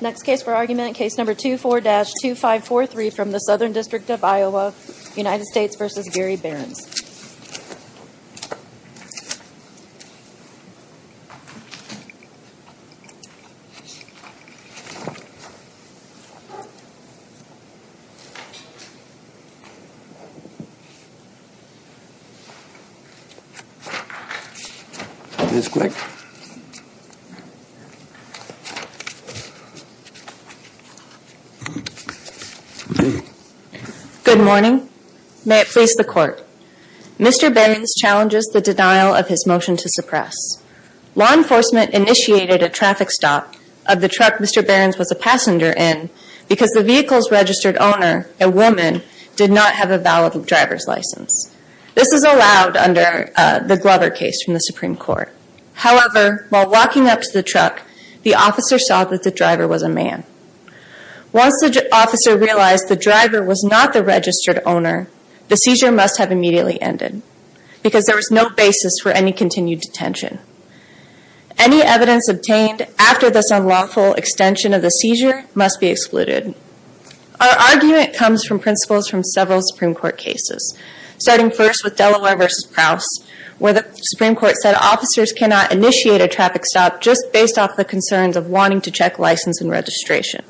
Next case for argument, case number 24-2543 from the Southern District of Iowa, United States v. Garry Behrens. Please click. Good morning. May it please the court. Mr. Behrens challenges the denial of his motion to suppress. Law enforcement initiated a traffic stop of the truck Mr. Behrens was a passenger in because the vehicle's registered owner, a woman, did not have a valid driver's license. This is allowed under the Glover case from the Supreme Court. However, while walking up to the truck, the officer saw that the driver was a man. Once the officer realized the driver was not the registered owner, the seizure must have immediately ended because there was no basis for any continued detention. Any evidence obtained after this unlawful extension of the seizure must be excluded. Our argument comes from principles from several Supreme Court cases. Starting first with Delaware v. Prowse, where the Supreme Court said officers cannot initiate a traffic stop just based off the concerns of wanting to check license and registration.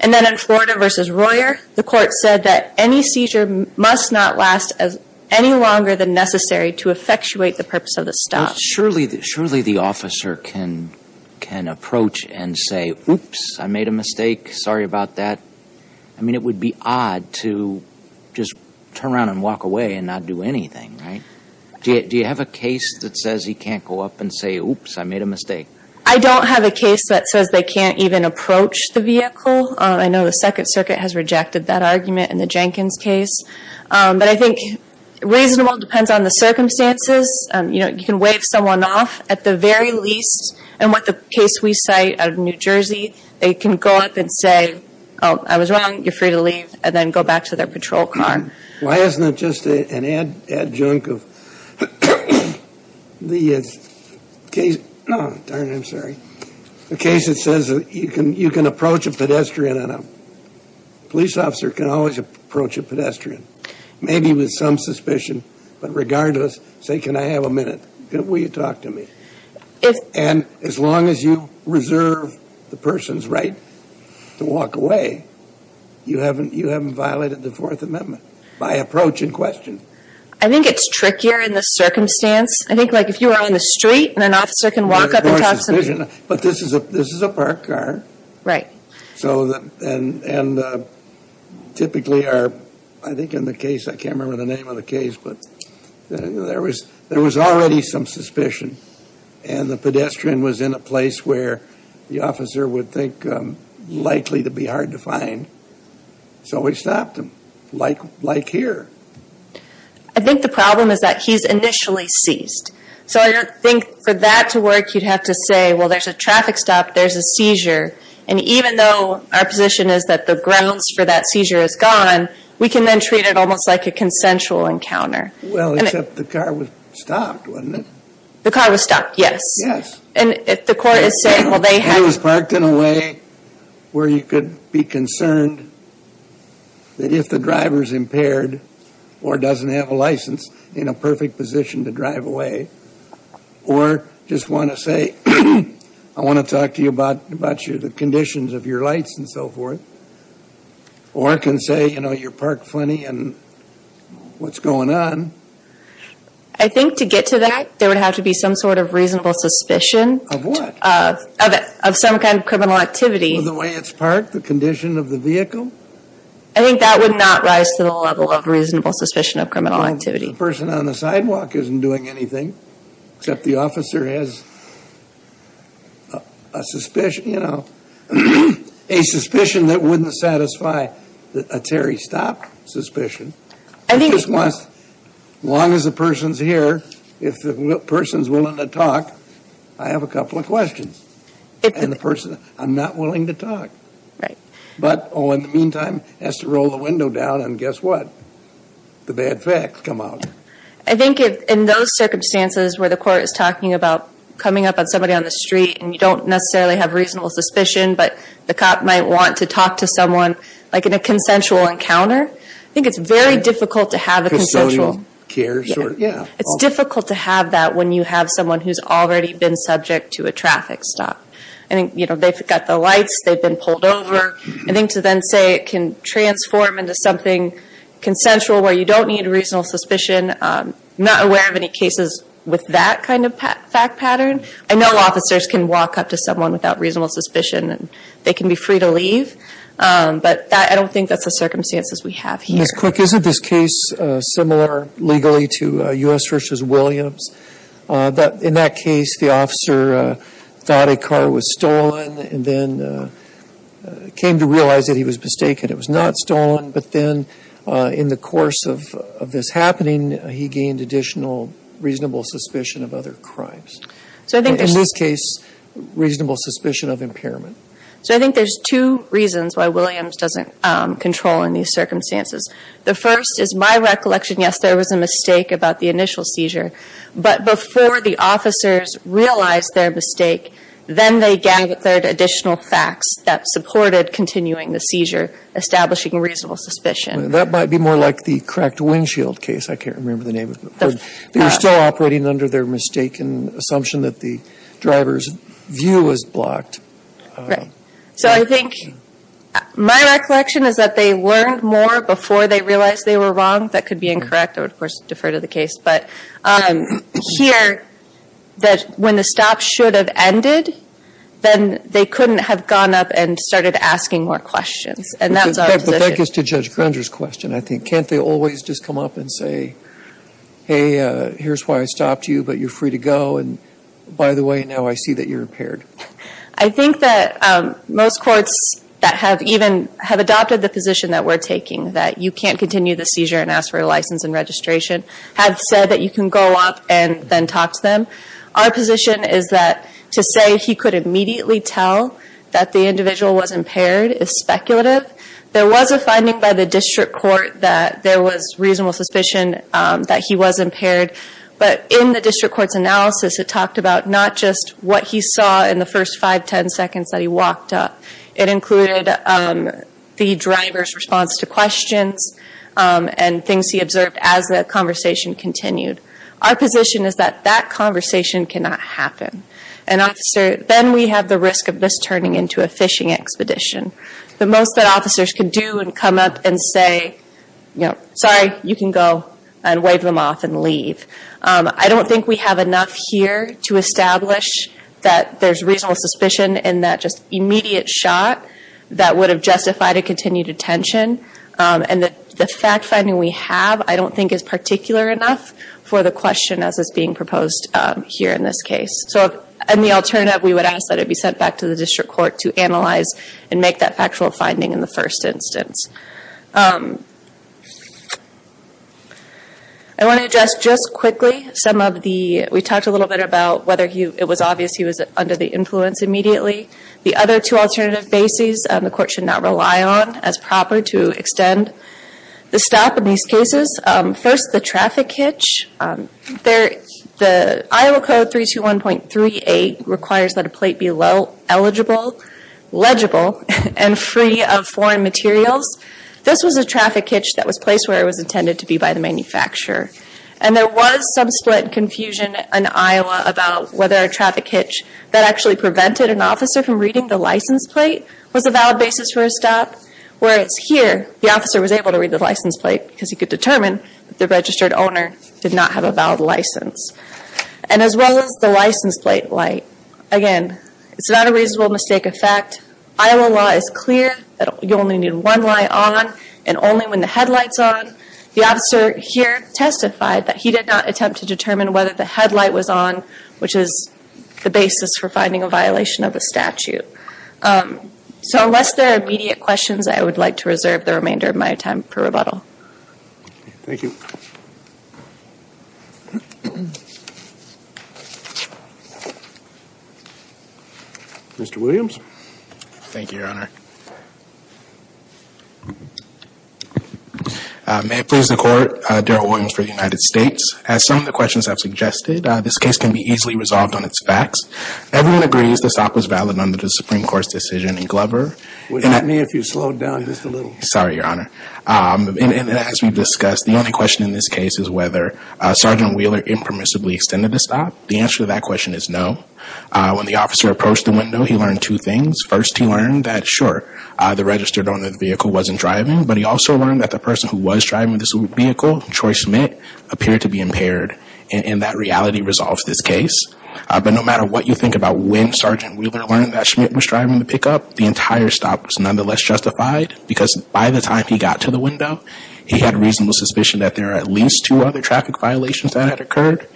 And then in Florida v. Royer, the court said that any seizure must not last any longer than necessary to effectuate the purpose of the stop. Surely the officer can approach and say, oops, I made a mistake, sorry about that. I mean, it would be odd to just turn around and walk away and not do anything, right? Do you have a case that says he can't go up and say, oops, I made a mistake? I don't have a case that says they can't even approach the vehicle. I know the Second Circuit has rejected that argument in the Jenkins case. But I think reasonable depends on the circumstances. You know, you can wave someone off at the very least. And what the case we cite out of New Jersey, they can go up and say, oh, I was wrong. You're free to leave and then go back to their patrol car. Why isn't it just an adjunct of the case? Oh, darn it, I'm sorry. A case that says you can approach a pedestrian and a police officer can always approach a pedestrian. Maybe with some suspicion. But regardless, say, can I have a minute? Will you talk to me? And as long as you reserve the person's right to walk away, you haven't violated the Fourth Amendment by approach in question. I think it's trickier in the circumstance. I think, like, if you were on the street and an officer can walk up and talk to me. But this is a parked car. Right. And typically, I think in the case, I can't remember the name of the case, but there was already some suspicion. And the pedestrian was in a place where the officer would think likely to be hard to find. So we stopped him. Like here. I think the problem is that he's initially seized. So I don't think for that to work, you'd have to say, well, there's a traffic stop, there's a seizure. And even though our position is that the grounds for that seizure is gone, we can then treat it almost like a consensual encounter. Well, except the car was stopped, wasn't it? The car was stopped, yes. Yes. And if the court is saying, well, they have... It was parked in a way where you could be concerned that if the driver's impaired or doesn't have a license, in a perfect position to drive away. Or just want to say, I want to talk to you about the conditions of your lights and so forth. Or can say, you know, you're parked plenty and what's going on. I think to get to that, there would have to be some sort of reasonable suspicion. Of what? Of some kind of criminal activity. The way it's parked? The condition of the vehicle? I think that would not rise to the level of reasonable suspicion of criminal activity. The person on the sidewalk isn't doing anything. Except the officer has a suspicion, you know... A suspicion that wouldn't satisfy a Terry Stop suspicion. I think... Just wants... As long as the person's here, if the person's willing to talk, I have a couple of questions. And the person... I'm not willing to talk. Right. But, oh, in the meantime, has to roll the window down. And guess what? The bad facts come out. I think in those circumstances where the court is talking about coming up on somebody on the street... And you don't necessarily have reasonable suspicion. But the cop might want to talk to someone... Like in a consensual encounter. I think it's very difficult to have a consensual... Custodian cares? Yeah. It's difficult to have that when you have someone who's already been subject to a traffic stop. I think, you know, they've got the lights. They've been pulled over. I think to then say it can transform into something consensual where you don't need reasonable suspicion... I'm not aware of any cases with that kind of fact pattern. I know officers can walk up to someone without reasonable suspicion. And they can be free to leave. But I don't think that's the circumstances we have here. Ms. Quick, isn't this case similar legally to U.S. v. Williams? In that case, the officer thought a car was stolen and then came to realize that he was mistaken. It was not stolen. But then in the course of this happening, he gained additional reasonable suspicion of other crimes. In this case, reasonable suspicion of impairment. So I think there's two reasons why Williams doesn't control in these circumstances. The first is my recollection, yes, there was a mistake about the initial seizure. But before the officers realized their mistake, then they gathered additional facts that supported continuing the seizure, establishing reasonable suspicion. That might be more like the cracked windshield case. I can't remember the name of it. They were still operating under their mistaken assumption that the driver's view was blocked. Right. So I think my recollection is that they learned more before they realized they were wrong. That could be incorrect. I would, of course, defer to the case. But here, that when the stop should have ended, then they couldn't have gone up and started asking more questions. And that's our position. But that gets to Judge Grunger's question, I think. Can't they always just come up and say, hey, here's why I stopped you, but you're free to go. And by the way, now I see that you're impaired. I think that most courts that have even have adopted the position that we're taking, that you can't continue the seizure and ask for a license and registration, have said that you can go up and then talk to them. Our position is that to say he could immediately tell that the individual was impaired is speculative. There was a finding by the district court that there was reasonable suspicion that he was impaired. But in the district court's analysis, it talked about not just what he saw in the first 5, 10 seconds that he walked up. It included the driver's response to questions and things he observed as the conversation continued. Our position is that that conversation cannot happen. And, officer, then we have the risk of this turning into a fishing expedition. The most that officers can do is come up and say, sorry, you can go and wave them off and leave. I don't think we have enough here to establish that there's reasonable suspicion in that just immediate shot that would have justified a continued detention. And the fact-finding we have I don't think is particular enough for the question as is being proposed here in this case. So in the alternative, we would ask that it be sent back to the district court to analyze and make that factual finding in the first instance. I want to address just quickly some of the, we talked a little bit about whether it was obvious he was under the influence immediately. The other two alternative bases the court should not rely on as proper to extend the stop in these cases. First, the traffic hitch. The Iowa Code 321.38 requires that a plate be eligible, legible, and free of foreign materials. This was a traffic hitch that was placed where it was intended to be by the manufacturer. And there was some split and confusion in Iowa about whether a traffic hitch that actually prevented an officer from reading the license plate was a valid basis for a stop. Whereas here, the officer was able to read the license plate because he could determine that the registered owner did not have a valid license. And as well as the license plate light. Again, it's not a reasonable mistake of fact. Iowa law is clear that you only need one light on and only when the headlight's on. The officer here testified that he did not attempt to determine whether the headlight was on, which is the basis for finding a violation of the statute. So unless there are immediate questions, I would like to reserve the remainder of my time for rebuttal. Thank you. Mr. Williams. Thank you, Your Honor. May it please the Court, Daryl Williams for the United States. As some of the questions have suggested, this case can be easily resolved on its facts. Everyone agrees the stop was valid under the Supreme Court's decision in Glover. Would you help me if you slowed down just a little? Sorry, Your Honor. And as we've discussed, the only question in this case is whether Sergeant Wheeler impermissibly extended the stop. The answer to that question is no. When the officer approached the window, he learned two things. First, he learned that, sure, the registered owner of the vehicle wasn't driving. But he also learned that the person who was driving this vehicle, Troy Schmidt, appeared to be impaired. And that reality resolves this case. But no matter what you think about when Sergeant Wheeler learned that Schmidt was driving the pickup, the entire stop was nonetheless justified because by the time he got to the window, he had reasonable suspicion that there were at least two other traffic violations that had occurred.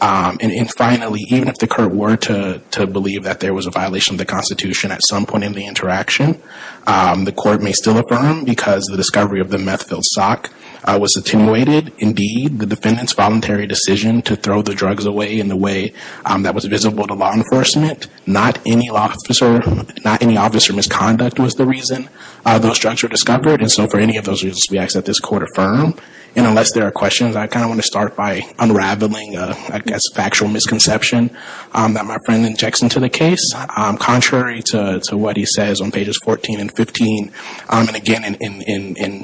And finally, even if the court were to believe that there was a violation of the Constitution at some point in the interaction, the Court may still affirm because the discovery of the meth-filled sock was attenuated. Indeed, the defendant's voluntary decision to throw the drugs away in a way that was visible to law enforcement. Not any officer misconduct was the reason those drugs were discovered. And so for any of those reasons, we ask that this Court affirm. And unless there are questions, I kind of want to start by unraveling a factual misconception that my friend injects into the case. Contrary to what he says on pages 14 and 15, and again in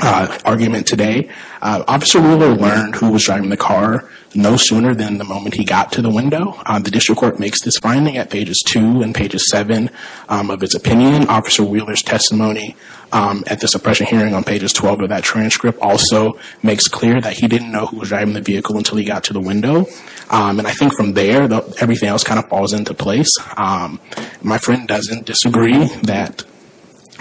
argument today, Officer Wheeler learned who was driving the car no sooner than the moment he got to the window. The District Court makes this finding at pages 2 and pages 7 of its opinion. Officer Wheeler's testimony at the suppression hearing on pages 12 of that transcript also makes clear that he didn't know who was driving the vehicle until he got to the window. And I think from there, everything else kind of falls into place. My friend doesn't disagree that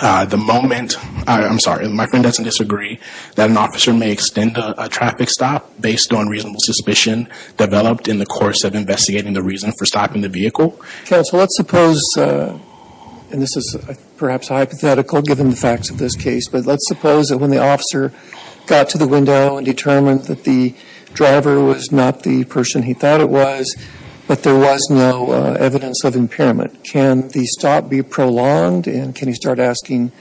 the moment, I'm sorry, my friend doesn't disagree that an officer may extend a traffic stop based on reasonable suspicion developed in the course of investigating the reason for stopping the vehicle. Counsel, let's suppose, and this is perhaps hypothetical given the facts of this case, but let's suppose that when the officer got to the window and determined that the driver was not the person he thought it was, but there was no evidence of impairment. Can the stop be prolonged? And can he start asking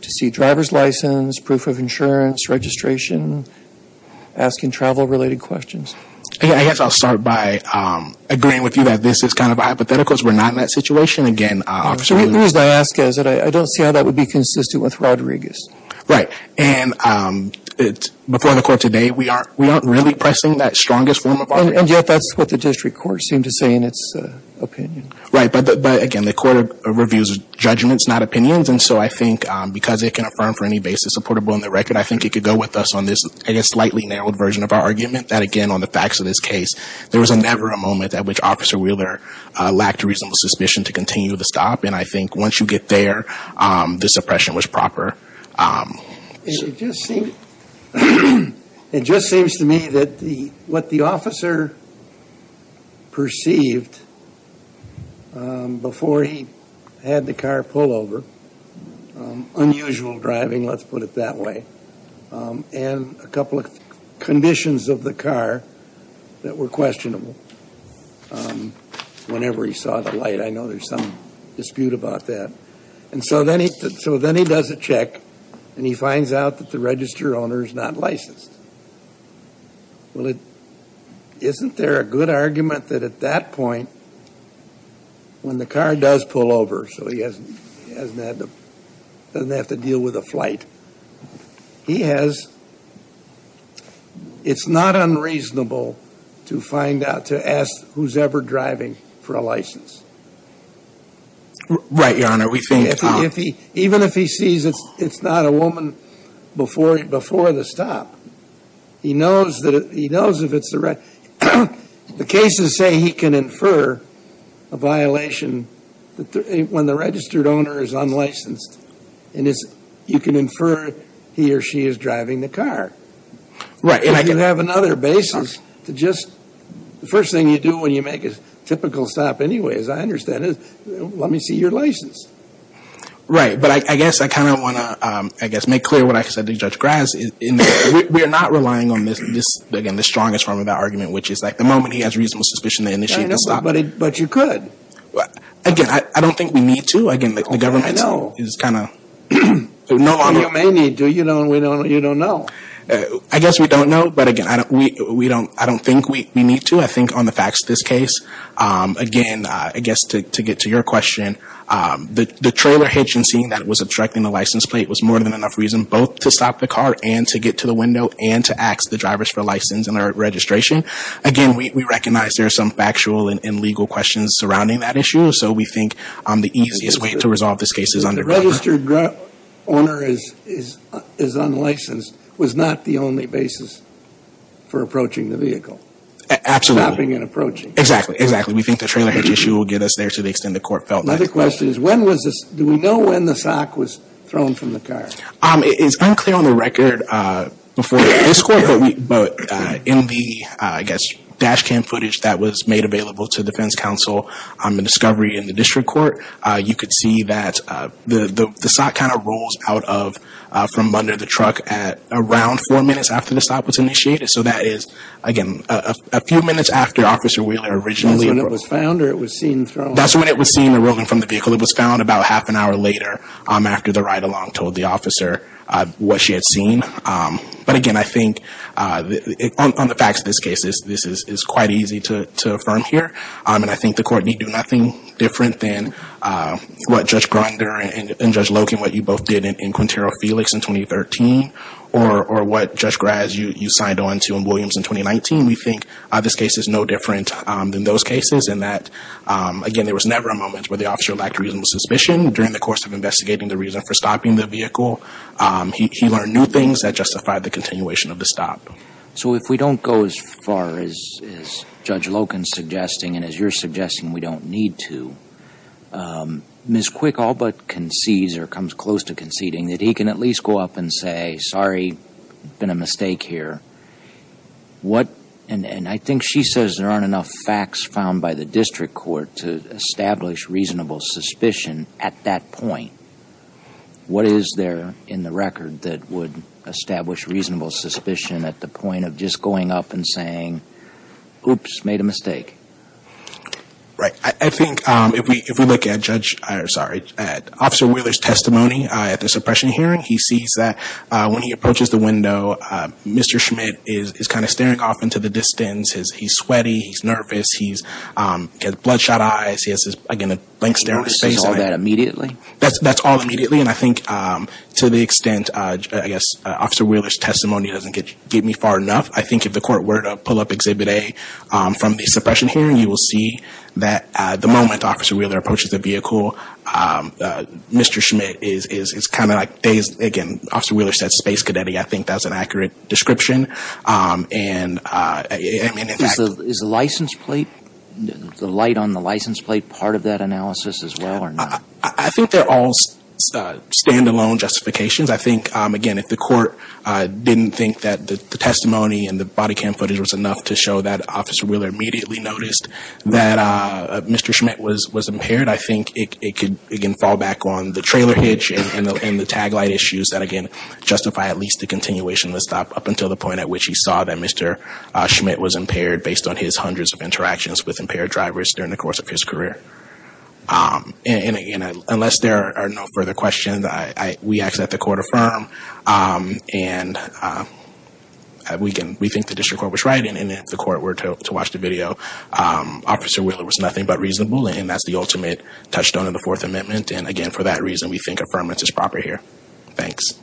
to see driver's license, proof of insurance, registration, asking travel-related questions? I guess I'll start by agreeing with you that this is kind of a hypothetical because we're not in that situation again, Officer Wheeler. The reason I ask is that I don't see how that would be consistent with Rodriguez. Right. And before the court today, we aren't really pressing that strongest form of argument. And yet that's what the district court seemed to say in its opinion. Right. But, again, the court reviews judgments, not opinions. And so I think because it can affirm for any basis a portable on the record, I think it could go with us on this slightly narrowed version of our argument that, again, on the facts of this case, there was never a moment at which Officer Wheeler lacked reasonable suspicion to continue the stop. And I think once you get there, the suppression was proper. It just seems to me that what the officer perceived before he had the car pull over, unusual driving, let's put it that way, and a couple of conditions of the car that were questionable whenever he saw the light. I know there's some dispute about that. And so then he does a check, and he finds out that the register owner is not licensed. Well, isn't there a good argument that at that point, when the car does pull over so he doesn't have to deal with a flight, he has – it's not unreasonable to find out, to ask who's ever driving for a license. Right, Your Honor. We think – Even if he sees it's not a woman before the stop, he knows if it's the – the cases say he can infer a violation when the registered owner is unlicensed, and you can infer he or she is driving the car. Right. You have another basis to just – the first thing you do when you make a typical stop anyway, as I understand it, let me see your license. Right. But I guess I kind of want to, I guess, make clear what I said to Judge Graz in that we are not relying on this, again, the strongest form of that argument, which is like the moment he has reasonable suspicion to initiate the stop. I know, but you could. Again, I don't think we need to. Again, the government is kind of – You may need to. You don't know. I guess we don't know, but again, I don't think we need to. I think on the facts of this case, again, I guess to get to your question, the trailer hitch and seeing that it was obstructing the license plate was more than enough reason both to stop the car and to get to the window and to ask the drivers for license and registration. Again, we recognize there are some factual and legal questions surrounding that issue, so we think the easiest way to resolve this case is under – The registered owner is unlicensed was not the only basis for approaching the vehicle. Absolutely. Stopping and approaching. Exactly, exactly. We think the trailer hitch issue will get us there to the extent the court felt that. Another question is when was this – do we know when the sock was thrown from the car? It's unclear on the record before this court, but in the, I guess, dash cam footage that was made available to the defense counsel on the discovery in the district court, you could see that the sock kind of rolls out of from under the truck at around four minutes after the sock was initiated. So that is, again, a few minutes after Officer Wheeler originally – That's when it was found or it was seen thrown? That's when it was seen rolling from the vehicle. It was found about half an hour later after the ride-along told the officer what she had seen. But, again, I think on the facts of this case, this is quite easy to affirm here, and I think the court need do nothing different than what Judge Grinder and Judge Loken, what you both did in Quintero Felix in 2013, or what Judge Graz, you signed on to in Williams in 2019. We think this case is no different than those cases in that, again, there was never a moment where the officer lacked reasonable suspicion during the course of investigating the reason for stopping the vehicle. He learned new things that justified the continuation of the stop. So if we don't go as far as Judge Loken's suggesting and as you're suggesting we don't need to, Ms. Quick all but concedes or comes close to conceding that he can at least go up and say, sorry, been a mistake here. And I think she says there aren't enough facts found by the district court to establish reasonable suspicion at that point. What is there in the record that would establish reasonable suspicion at the point of just going up and saying, oops, made a mistake? Right. I think if we look at Officer Wheeler's testimony at the suppression hearing, he sees that when he approaches the window, Mr. Schmidt is kind of staring off into the distance. He's sweaty. He's nervous. He's got bloodshot eyes. He has, again, a blank stare on his face. He notices all that immediately? That's all immediately. And I think to the extent, I guess, Officer Wheeler's testimony doesn't get me far enough, I think if the court were to pull up Exhibit A from the suppression hearing, you will see that the moment Officer Wheeler approaches the vehicle, Mr. Schmidt is kind of like dazed. Again, Officer Wheeler said space cadet. I think that's an accurate description. Is the license plate, the light on the license plate part of that analysis as well or not? I think they're all stand-alone justifications. I think, again, if the court didn't think that the testimony and the body cam footage was enough to show that Officer Wheeler immediately noticed that Mr. Schmidt was impaired, I think it could, again, fall back on the trailer hitch and the tag light issues that, again, justify at least a continuation of the stop up until the point at which he saw that Mr. Schmidt was impaired based on his hundreds of interactions with impaired drivers during the course of his career. And, again, unless there are no further questions, we ask that the court affirm. And we think the district court was right. And if the court were to watch the video, Officer Wheeler was nothing but reasonable. And that's the ultimate touchstone of the Fourth Amendment. And, again, for that reason, we think affirmance is proper here. Thanks.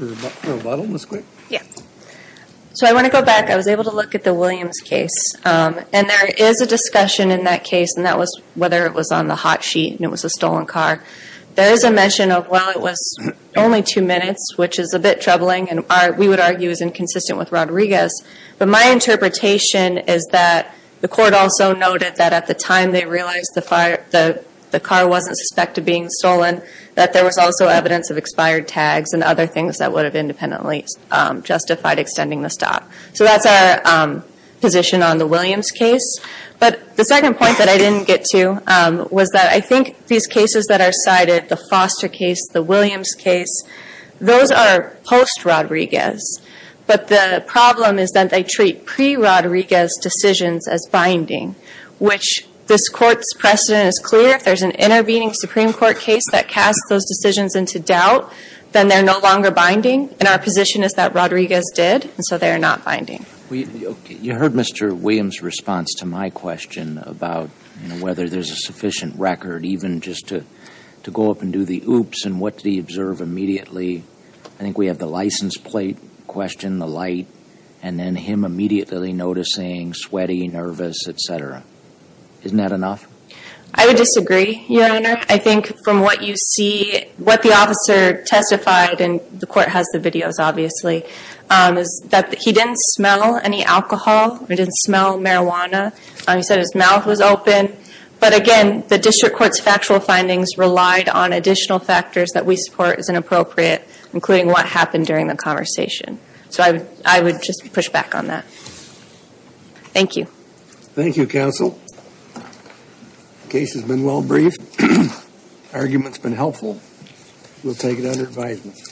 Ms. Quick? So I want to go back. I was able to look at the Williams case. And there is a discussion in that case, and that was whether it was on the hot sheet and it was a stolen car. There is a mention of, well, it was only two minutes, which is a bit troubling and we would argue is inconsistent with Rodriguez. But my interpretation is that the court also noted that at the time they realized the car wasn't suspected being stolen, that there was also evidence of expired tags and other things that would have independently justified extending the stop. So that's our position on the Williams case. But the second point that I didn't get to was that I think these cases that are cited, the Foster case, the Williams case, those are post-Rodriguez, but the problem is that they treat pre-Rodriguez decisions as binding, which this Court's precedent is clear. If there's an intervening Supreme Court case that casts those decisions into doubt, then they're no longer binding. And our position is that Rodriguez did, and so they are not binding. You heard Mr. Williams' response to my question about whether there's a sufficient record, even just to go up and do the oops and what did he observe immediately. I think we have the license plate question, the light, and then him immediately noticing sweaty, nervous, et cetera. Isn't that enough? I would disagree, Your Honor. I think from what you see, what the officer testified, and the Court has the videos, obviously, is that he didn't smell any alcohol or didn't smell marijuana. He said his mouth was open. But again, the District Court's factual findings relied on additional factors that we support as inappropriate, including what happened during the conversation. So I would just push back on that. Thank you. Thank you, counsel. Case has been well briefed. Argument's been helpful. We'll take it under advisement.